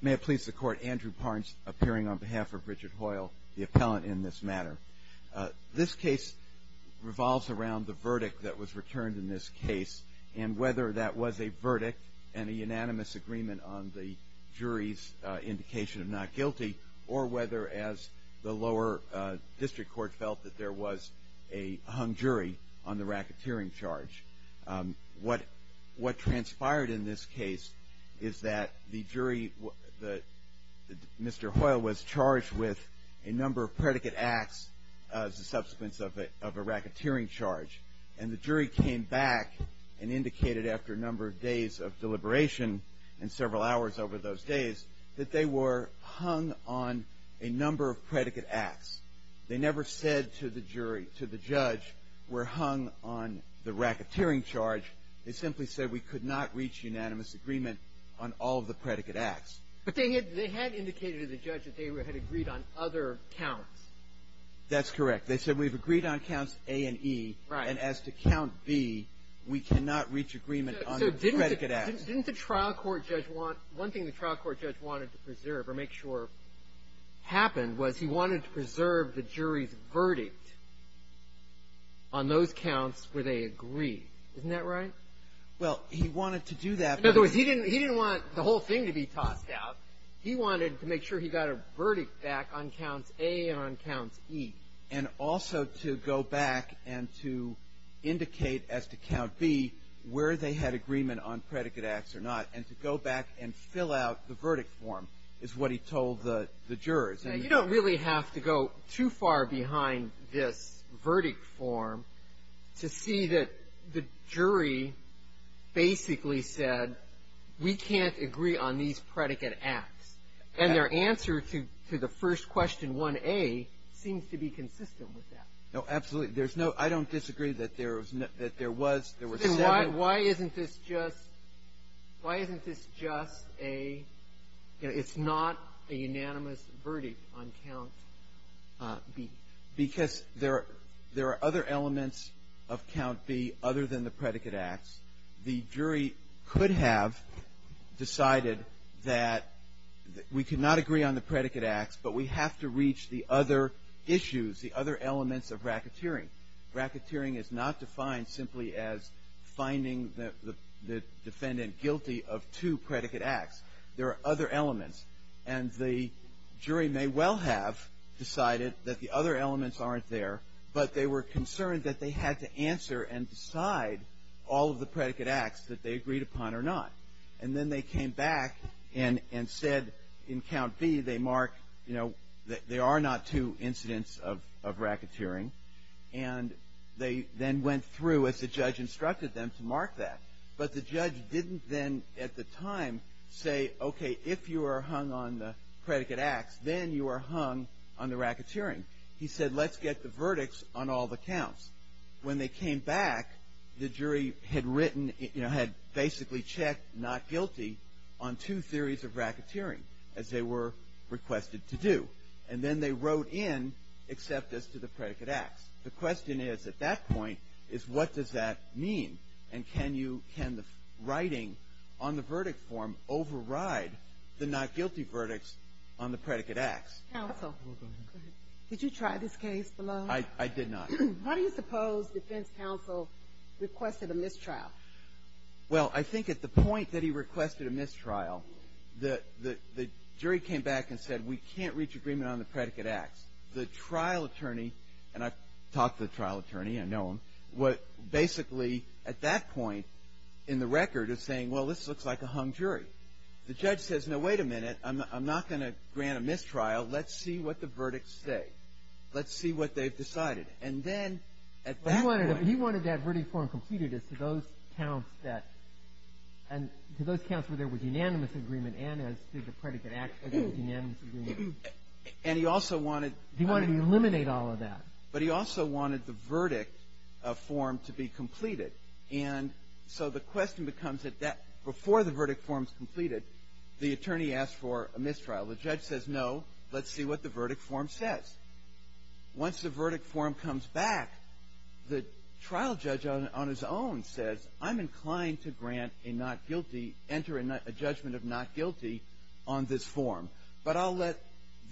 May it please the court, Andrew Parnes appearing on behalf of Richard Hoyle, the appellant in this matter. This case revolves around the verdict that was returned in this case and whether that was a verdict and a unanimous agreement on the jury's indication of not guilty or whether as the lower district court felt that there was a hung jury on the racketeering charge. What transpired in this case is that the jury, Mr. Hoyle was charged with a number of predicate acts as a subsequence of a racketeering charge and the jury came back and indicated after a number of days of deliberation and several hours over those days that they were hung on a number of predicate acts. They never said to the jury, to the judge, we're hung on the racketeering charge. They simply said we could not reach unanimous agreement on all of the predicate acts. But they had indicated to the judge that they had agreed on other counts. That's correct. They said we've agreed on counts A and E. Right. And as to count B, we cannot reach agreement on the predicate acts. Didn't the trial court judge want one thing the trial court judge wanted to preserve or make sure happened was he wanted to preserve the jury's verdict on those counts where they agreed. Isn't that right? Well, he wanted to do that. In other words, he didn't want the whole thing to be tossed out. He wanted to make sure he got a verdict back on counts A and on counts E. And also to go back and to indicate as to count B where they had agreement on predicate acts or not and to go back and fill out the verdict form is what he told the jurors. And you don't really have to go too far behind this verdict form to see that the jury basically said we can't agree on these predicate acts. And their answer to the first question, 1A, seems to be consistent with that. No, absolutely. There's no – I don't disagree that there was – there were seven. Why isn't this just – why isn't this just a – it's not a unanimous verdict on count B? Because there are other elements of count B other than the predicate acts. The jury could have decided that we cannot agree on the predicate acts, but we have to reach the other issues, the other elements of racketeering. Racketeering is not defined simply as finding the defendant guilty of two predicate acts. There are other elements. And the jury may well have decided that the other elements aren't there, but they were concerned that they had to answer and decide all of the predicate acts that they agreed upon or not. And then they came back and said in count B they mark, you know, there are not two incidents of racketeering. And they then went through, as the judge instructed them, to mark that. But the judge didn't then at the time say, okay, if you are hung on the predicate acts, then you are hung on the racketeering. He said let's get the verdicts on all the counts. When they came back, the jury had written – you know, had basically checked not guilty on two theories of racketeering as they were requested to do. And then they wrote in except as to the predicate acts. The question is at that point is what does that mean? And can you – can the writing on the verdict form override the not guilty verdicts on the predicate acts? Counsel, did you try this case? I did not. Why do you suppose defense counsel requested a mistrial? Well, I think at the point that he requested a mistrial, the jury came back and said we can't reach agreement on the predicate acts. The trial attorney – and I've talked to the trial attorney, I know him – what basically at that point in the record is saying, well, this looks like a hung jury. The judge says, no, wait a minute. I'm not going to grant a mistrial. Let's see what the verdicts say. Let's see what they've decided. And then at that point – He wanted that verdict form completed as to those counts that – and to those counts where there was unanimous agreement and as to the predicate acts there was unanimous agreement. And he also wanted – He wanted to eliminate all of that. But he also wanted the verdict form to be completed. And so the question becomes that before the verdict form is completed, the attorney asks for a mistrial. The judge says, no, let's see what the verdict form says. Once the verdict form comes back, the trial judge on his own says, I'm inclined to grant a not guilty – enter a judgment of not guilty on this form. But I'll let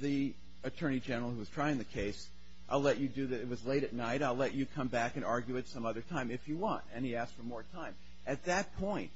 the attorney general who was trying the case, I'll let you do the – it was late at night. I'll let you come back and argue it some other time if you want. And he asked for more time. At that point,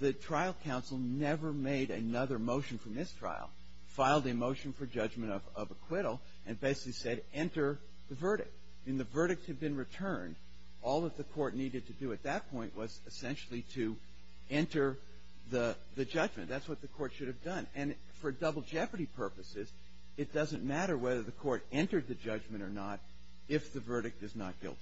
the trial counsel never made another motion for mistrial, filed a motion for judgment of acquittal, and basically said, enter the verdict. And the verdicts had been returned. All that the court needed to do at that point was essentially to enter the judgment. That's what the court should have done. And for double jeopardy purposes, it doesn't matter whether the court entered the judgment or not if the verdict is not guilty.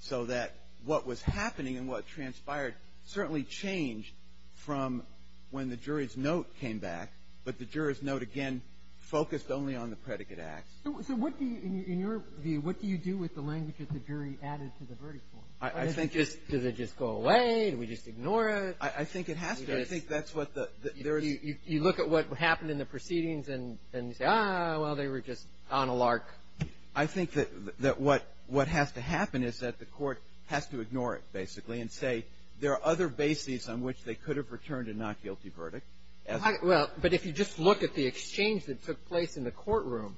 So that what was happening and what transpired certainly changed from when the jury's note came back, but the jury's note, again, focused only on the predicate acts. So what do you – in your view, what do you do with the language that the jury added to the verdict form? I think just – Does it just go away? Do we just ignore it? I think it has to. I think that's what the – there is – You look at what happened in the proceedings and say, ah, well, they were just on a lark. I think that what has to happen is that the court has to ignore it, basically, and say there are other bases on which they could have returned a not guilty verdict. Well, but if you just look at the exchange that took place in the courtroom,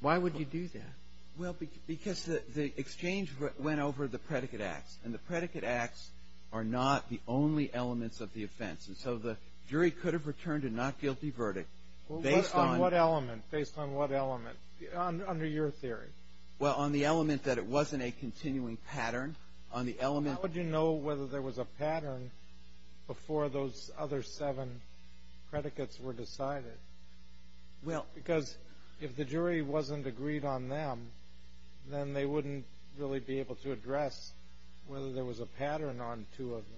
why would you do that? Well, because the exchange went over the predicate acts. And the predicate acts are not the only elements of the offense. And so the jury could have returned a not guilty verdict based on – On what element? Based on what element? Under your theory. Well, on the element that it wasn't a continuing pattern. On the element – How would you know whether there was a pattern before those other seven predicates were decided? Well – Because if the jury wasn't agreed on them, then they wouldn't really be able to address whether there was a pattern on two of them.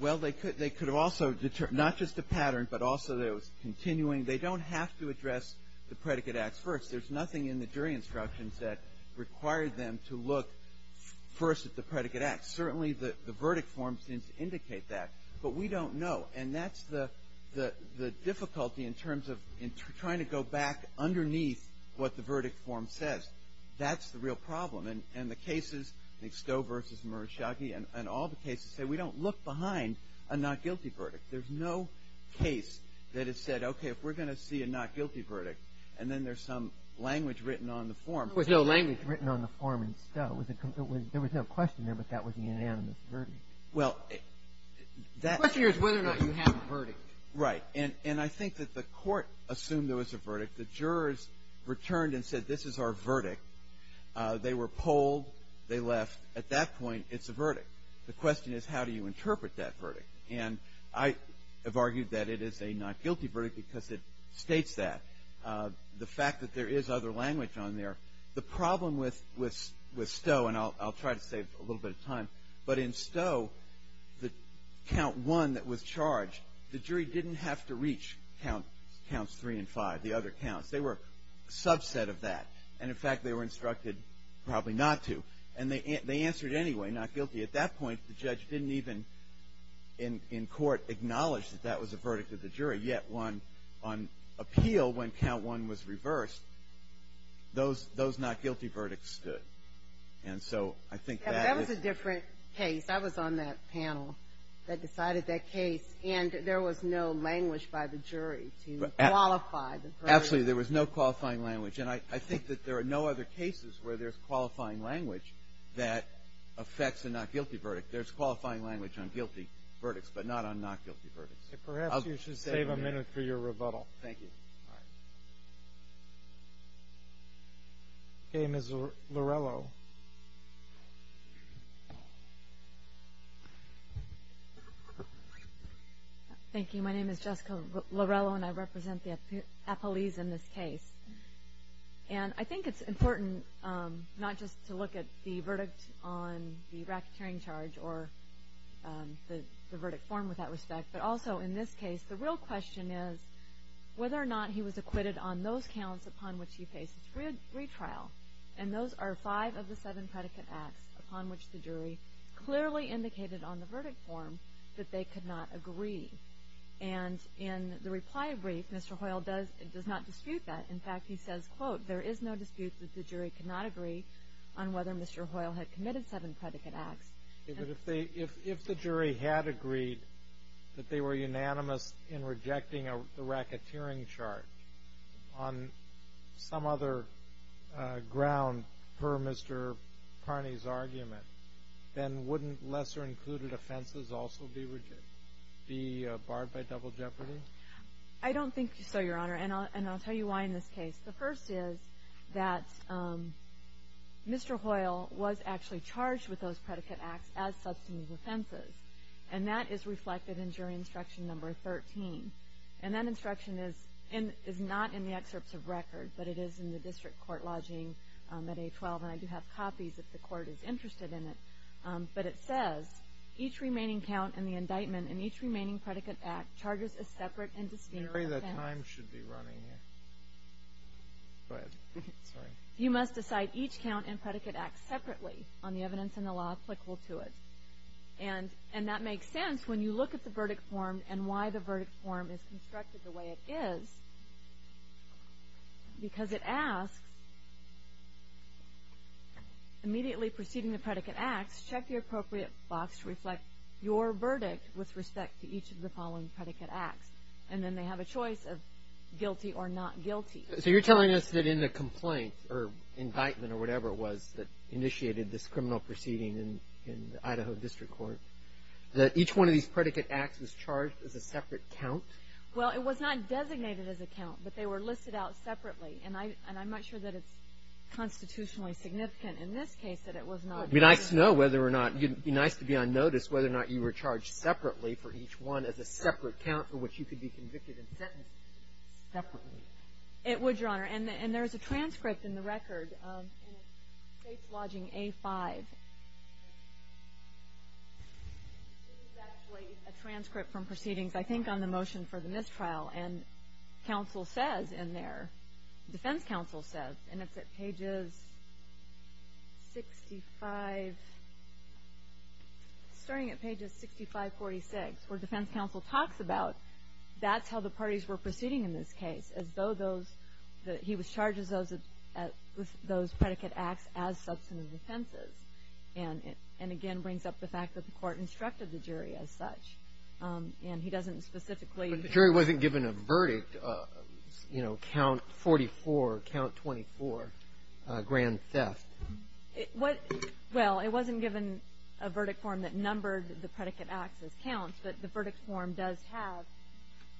Well, they could have also – not just a pattern, but also that it was continuing. They don't have to address the predicate acts first. There's nothing in the jury instructions that required them to look first at the predicate acts. Certainly, the verdict form seems to indicate that. But we don't know. And that's the difficulty in terms of trying to go back underneath what the verdict form says. That's the real problem. And the cases, Stowe versus Murashagi, and all the cases say we don't look behind a not guilty verdict. There's no case that has said, okay, if we're going to see a not guilty verdict, and then there's some language written on the form – There was no language written on the form in Stowe. There was no question there, but that was the unanimous verdict. Well, that – The question is whether or not you have a verdict. Right. And I think that the court assumed there was a verdict. The jurors returned and said, this is our verdict. They were polled. They left. At that point, it's a verdict. The question is, how do you interpret that verdict? And I have argued that it is a not guilty verdict because it states that. The fact that there is other language on there, the problem with Stowe – and I'll try to save a little bit of time – but in Stowe, the count one that was charged, the jury didn't have to reach counts three and five, the other counts. They were a subset of that. And, in fact, they were instructed probably not to. And they answered anyway, not guilty. At that point, the judge didn't even, in court, acknowledge that that was a verdict of the jury. Yet, on appeal, when count one was reversed, those not guilty verdicts stood. And so I think that is – That was a different case. I was on that panel that decided that case, and there was no language by the jury to qualify the verdict. Absolutely, there was no qualifying language. And I think that there are no other cases where there's qualifying language that affects a not guilty verdict. There's qualifying language on guilty verdicts, but not on not guilty verdicts. Perhaps you should save a minute for your rebuttal. Thank you. All right. Okay, Ms. Lorello. Thank you. My name is Jessica Lorello, and I represent the appellees in this case. And I think it's important not just to look at the verdict on the racketeering charge or the verdict form with that respect, but also in this case, the real question is whether or not he was acquitted on those counts upon which he faces retrial. And those are five of the seven predicate acts upon which the jury clearly indicated on the verdict form that they could not agree. And in the reply brief, Mr. Hoyle does not dispute that. In fact, he says, quote, there is no dispute that the jury could not agree on whether Mr. Hoyle had committed seven predicate acts. If the jury had agreed that they were unanimous in rejecting the racketeering charge, on some other ground per Mr. Carney's argument, then wouldn't lesser included offenses also be barred by double jeopardy? I don't think so, Your Honor, and I'll tell you why in this case. The first is that Mr. Hoyle was actually charged with those predicate acts as substantive offenses, and that is reflected in jury instruction number 13. And that instruction is not in the excerpts of record, but it is in the district court lodging at A12, and I do have copies if the court is interested in it. But it says, each remaining count in the indictment and each remaining predicate act charges a separate and distinct jury. The time should be running. Go ahead. Sorry. You must decide each count and predicate act separately on the evidence in the law applicable to it. And that makes sense when you look at the verdict form and why the verdict form is constructed the way it is, because it asks, immediately preceding the predicate acts, check the appropriate box to reflect your verdict with respect to each of the following predicate acts. And then they have a choice of guilty or not guilty. So you're telling us that in the complaint or indictment or whatever it was that initiated this criminal proceeding in the Idaho District Court, that each one of these predicate acts was charged as a separate count? Well, it was not designated as a count, but they were listed out separately. And I'm not sure that it's constitutionally significant in this case that it was not. It would be nice to know whether or not it would be nice to be on notice whether or not you were charged separately for each one as a separate count It would, Your Honor. And there's a transcript in the record. This is actually a transcript from proceedings, I think, on the motion for the mistrial. And counsel says in there, defense counsel says, and it's at pages 65, starting at pages 65-46, where defense counsel talks about, that's how the parties were proceeding in this case, as though he was charged with those predicate acts as substantive offenses. And again, brings up the fact that the court instructed the jury as such. And he doesn't specifically But the jury wasn't given a verdict, you know, count 44, count 24, grand theft. Well, it wasn't given a verdict form that numbered the predicate acts as counts, but the verdict form does have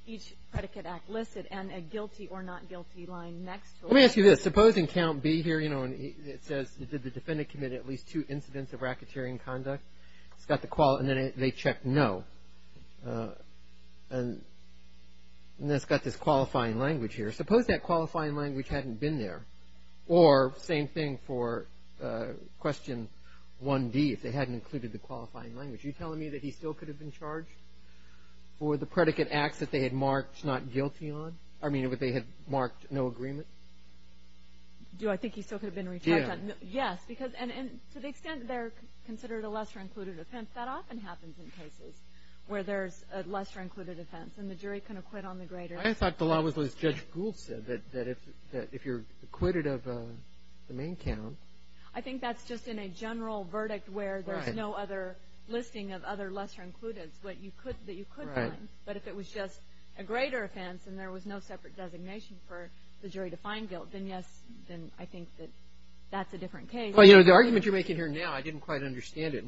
each predicate act listed and a guilty or not guilty line next to it. Let me ask you this. Supposing count B here, you know, it says did the defendant commit at least two incidents of racketeering conduct? It's got the quality, and then they check no. And then it's got this qualifying language here. Suppose that qualifying language hadn't been there. Or same thing for question 1D, if they hadn't included the qualifying language. Are you telling me that he still could have been charged for the predicate acts that they had marked not guilty on? I mean, they had marked no agreement? Do I think he still could have been retried? Yes, because to the extent they're considered a lesser-included offense, that often happens in cases where there's a lesser-included offense, and the jury can acquit on the greater. I thought the law was as Judge Gould said, that if you're acquitted of the main count. I think that's just in a general verdict where there's no other listing of other lesser-includeds. That you could find. Right. But if it was just a greater offense, and there was no separate designation for the jury to find guilt, then yes, I think that that's a different case. Well, you know, the argument you're making here now, I didn't quite understand it.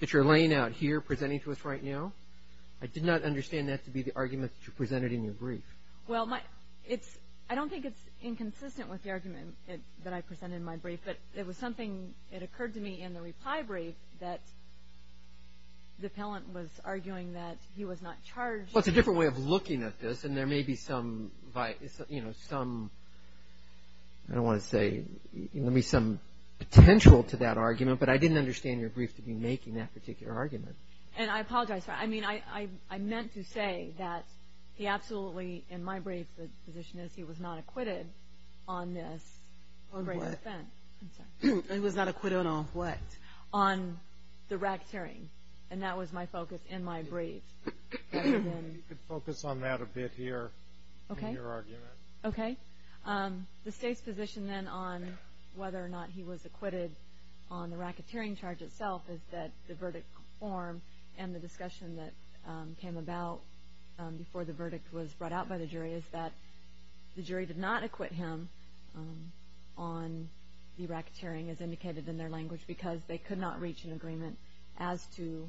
That you're laying out here presenting to us right now, I did not understand that to be the argument that you presented in your brief. Well, I don't think it's inconsistent with the argument that I presented in my brief, but it was something that occurred to me in the reply brief that the appellant was arguing that he was not charged. Well, it's a different way of looking at this, and there may be some, you know, some, I don't want to say, there may be some potential to that argument, but I didn't understand your brief to be making that particular argument. And I apologize for that. I mean, I meant to say that he absolutely, in my brief, the position is he was not acquitted on this. On what? I'm sorry. He was not acquitted on what? On the racketeering. And that was my focus in my brief. You could focus on that a bit here. Okay. In your argument. Okay. The state's position then on whether or not he was acquitted on the racketeering charge itself is that the verdict form and the discussion that came about before the verdict was brought out by the jury is that the jury did not acquit him on the racketeering, as indicated in their language, because they could not reach an agreement as to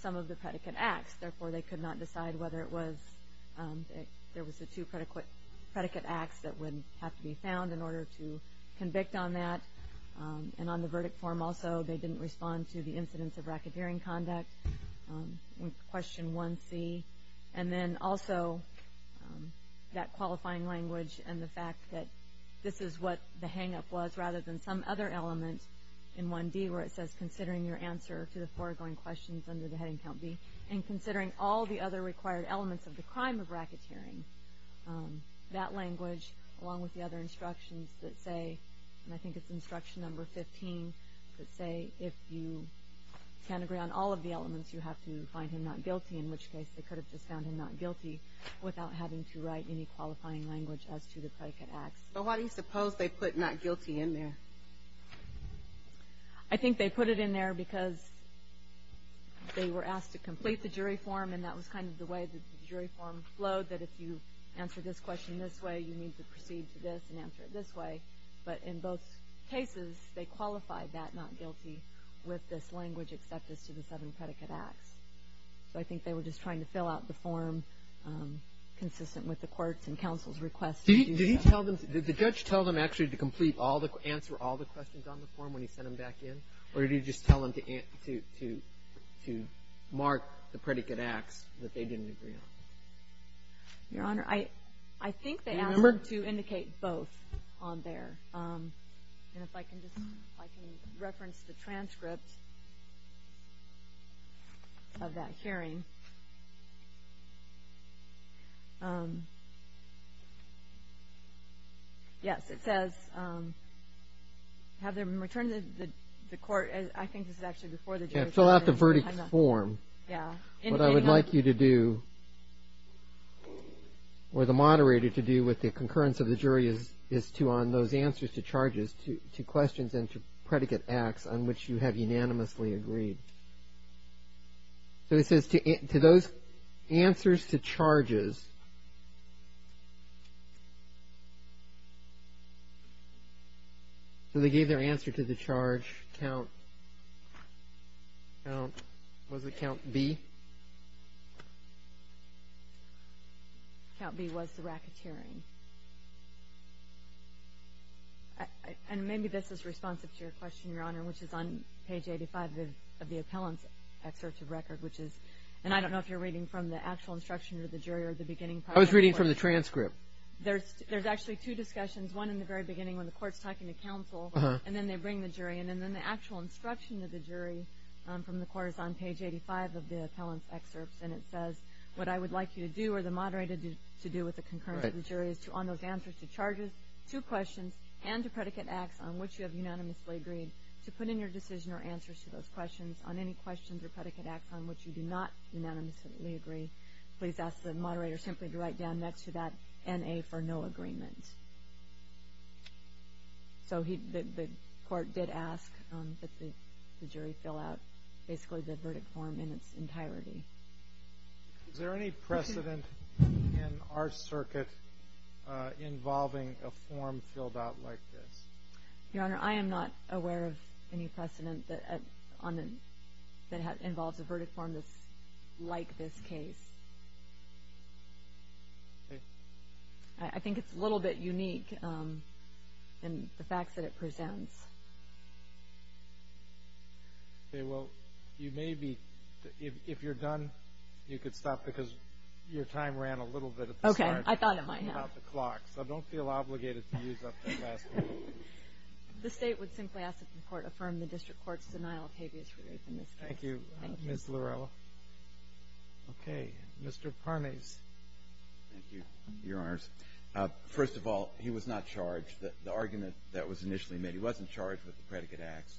some of the predicate acts. Therefore, they could not decide whether it was, there was a two predicate acts that would have to be found in order to convict on that. And on the verdict form also, they didn't respond to the incidents of racketeering conduct, question 1C. And then also that qualifying language and the fact that this is what the hangup was rather than some other element in 1D where it says considering your answer to the foregoing questions under the heading count B and considering all the other required elements of the crime of racketeering. That language, along with the other instructions that say, and I think it's instruction number 15, that say if you can't agree on all of the elements, you have to find him not guilty, in which case they could have just found him not guilty without having to write any qualifying language as to the predicate acts. But why do you suppose they put not guilty in there? I think they put it in there because they were asked to complete the jury form and that was kind of the way that the jury form flowed, that if you answer this question this way, you need to proceed to this and answer it this way. But in both cases, they qualified that not guilty with this language except as to the seven predicate acts. So I think they were just trying to fill out the form consistent with the court's and counsel's requests. Did he tell them, did the judge tell them actually to complete all the, answer all the questions on the form when he sent them back in, or did he just tell them to mark the predicate acts that they didn't agree on? Your Honor, I think they asked them to indicate both on there. And if I can just, if I can reference the transcript of that hearing. Yes, it says, have them return to the court, I think this is actually before the jury. Fill out the verdict form. What I would like you to do, or the moderator to do with the concurrence of the jury is to, on those answers to charges, to questions and to predicate acts on which you have unanimously agreed. So it says, to those answers to charges, so they gave their answer to the charge, count, was it count B? Count B was the racketeering. And maybe this is responsive to your question, Your Honor, which is on page 85 of the appellant's assertive record, which is, and I don't know if you're reading from the actual instruction of the jury or the beginning part of the court. I was reading from the transcript. There's actually two discussions, one in the very beginning when the court's talking to counsel, and then they bring the jury, and then the actual instruction of the jury from the court is on page 85 of the appellant's excerpts, and it says, what I would like you to do, or the moderator to do with the concurrence of the jury is to, on those answers to charges, to questions and to predicate acts on which you have unanimously agreed, to put in your decision or answers to those questions. On any questions or predicate acts on which you do not unanimously agree, please ask the moderator simply to write down next to that N.A. for no agreement. So the court did ask that the jury fill out basically the verdict form in its entirety. Is there any precedent in our circuit involving a form filled out like this? Your Honor, I am not aware of any precedent that involves a verdict form that's like this case. Okay. I think it's a little bit unique in the facts that it presents. Okay. Well, you may be, if you're done, you could stop because your time ran a little bit at the start. Okay. I thought it might have. About the clock, so don't feel obligated to use up that last minute. The State would simply ask that the Court affirm the District Court's denial of habeas rigors in this case. Thank you. Thank you. Ms. Lorella. Okay. Mr. Parmes. Thank you, Your Honors. First of all, he was not charged. The argument that was initially made, he wasn't charged with the predicate acts.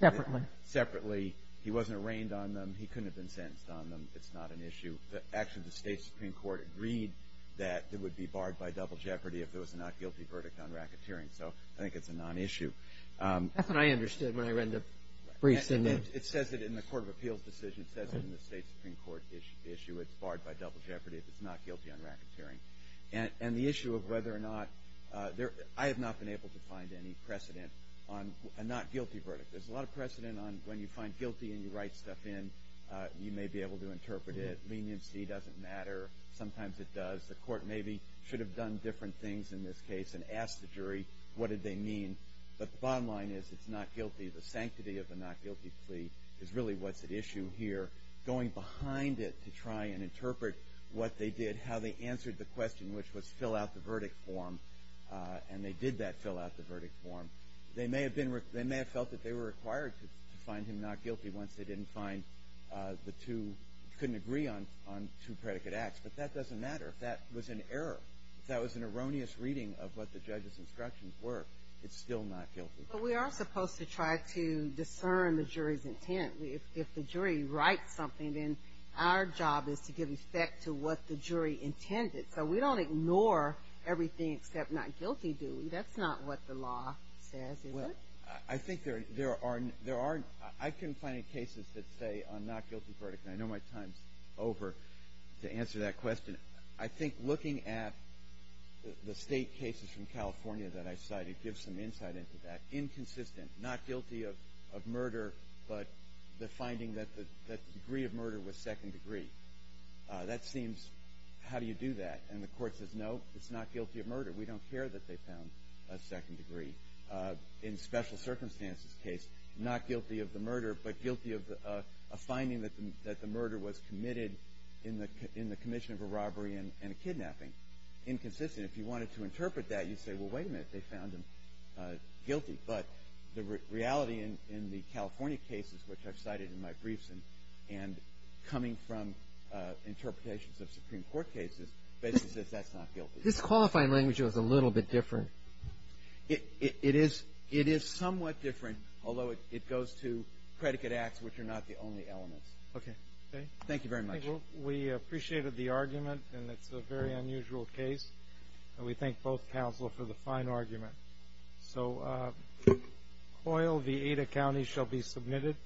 Separately. Separately. He wasn't arraigned on them. He couldn't have been sentenced on them. It's not an issue. Actually, the State Supreme Court agreed that it would be barred by double jeopardy if there was a not guilty verdict on racketeering. So I think it's a nonissue. That's what I understood when I read the briefs. It says it in the Court of Appeals decision. It says it in the State Supreme Court issue. It's barred by double jeopardy if it's not guilty on racketeering. And the issue of whether or not – I have not been able to find any precedent on a not guilty verdict. There's a lot of precedent on when you find guilty and you write stuff in. You may be able to interpret it. Leniency doesn't matter. Sometimes it does. The Court maybe should have done different things in this case and asked the jury what did they mean. But the bottom line is it's not guilty. The sanctity of the not guilty plea is really what's at issue here. Going behind it to try and interpret what they did, how they answered the question, which was fill out the verdict form, and they did that, fill out the verdict form. They may have felt that they were required to find him not guilty once they didn't find the two – couldn't agree on two predicate acts. But that doesn't matter. If that was an error, if that was an erroneous reading of what the judge's instructions were, it's still not guilty. But we are supposed to try to discern the jury's intent. If the jury writes something, then our job is to give effect to what the jury intended. So we don't ignore everything except not guilty, do we? That's not what the law says, is it? Well, I think there are – I can find cases that say a not guilty verdict, and I know my time's over to answer that question. I think looking at the state cases from California that I cite, it gives some insight into that. Inconsistent, not guilty of murder, but the finding that the degree of murder was second degree. That seems – how do you do that? And the court says, no, it's not guilty of murder. We don't care that they found a second degree. In special circumstances case, not guilty of the murder, but guilty of a finding that the murder was committed in the commission of a robbery and a kidnapping. Inconsistent. If you wanted to interpret that, you'd say, well, wait a minute, they found him guilty. But the reality in the California cases, which I've cited in my briefs, and coming from interpretations of Supreme Court cases, basically says that's not guilty. This qualifying language is a little bit different. It is somewhat different, although it goes to predicate acts, which are not the only elements. Okay. Thank you very much. We appreciated the argument, and it's a very unusual case. And we thank both counsel for the fine argument. So Coyle v. Ada County shall be submitted.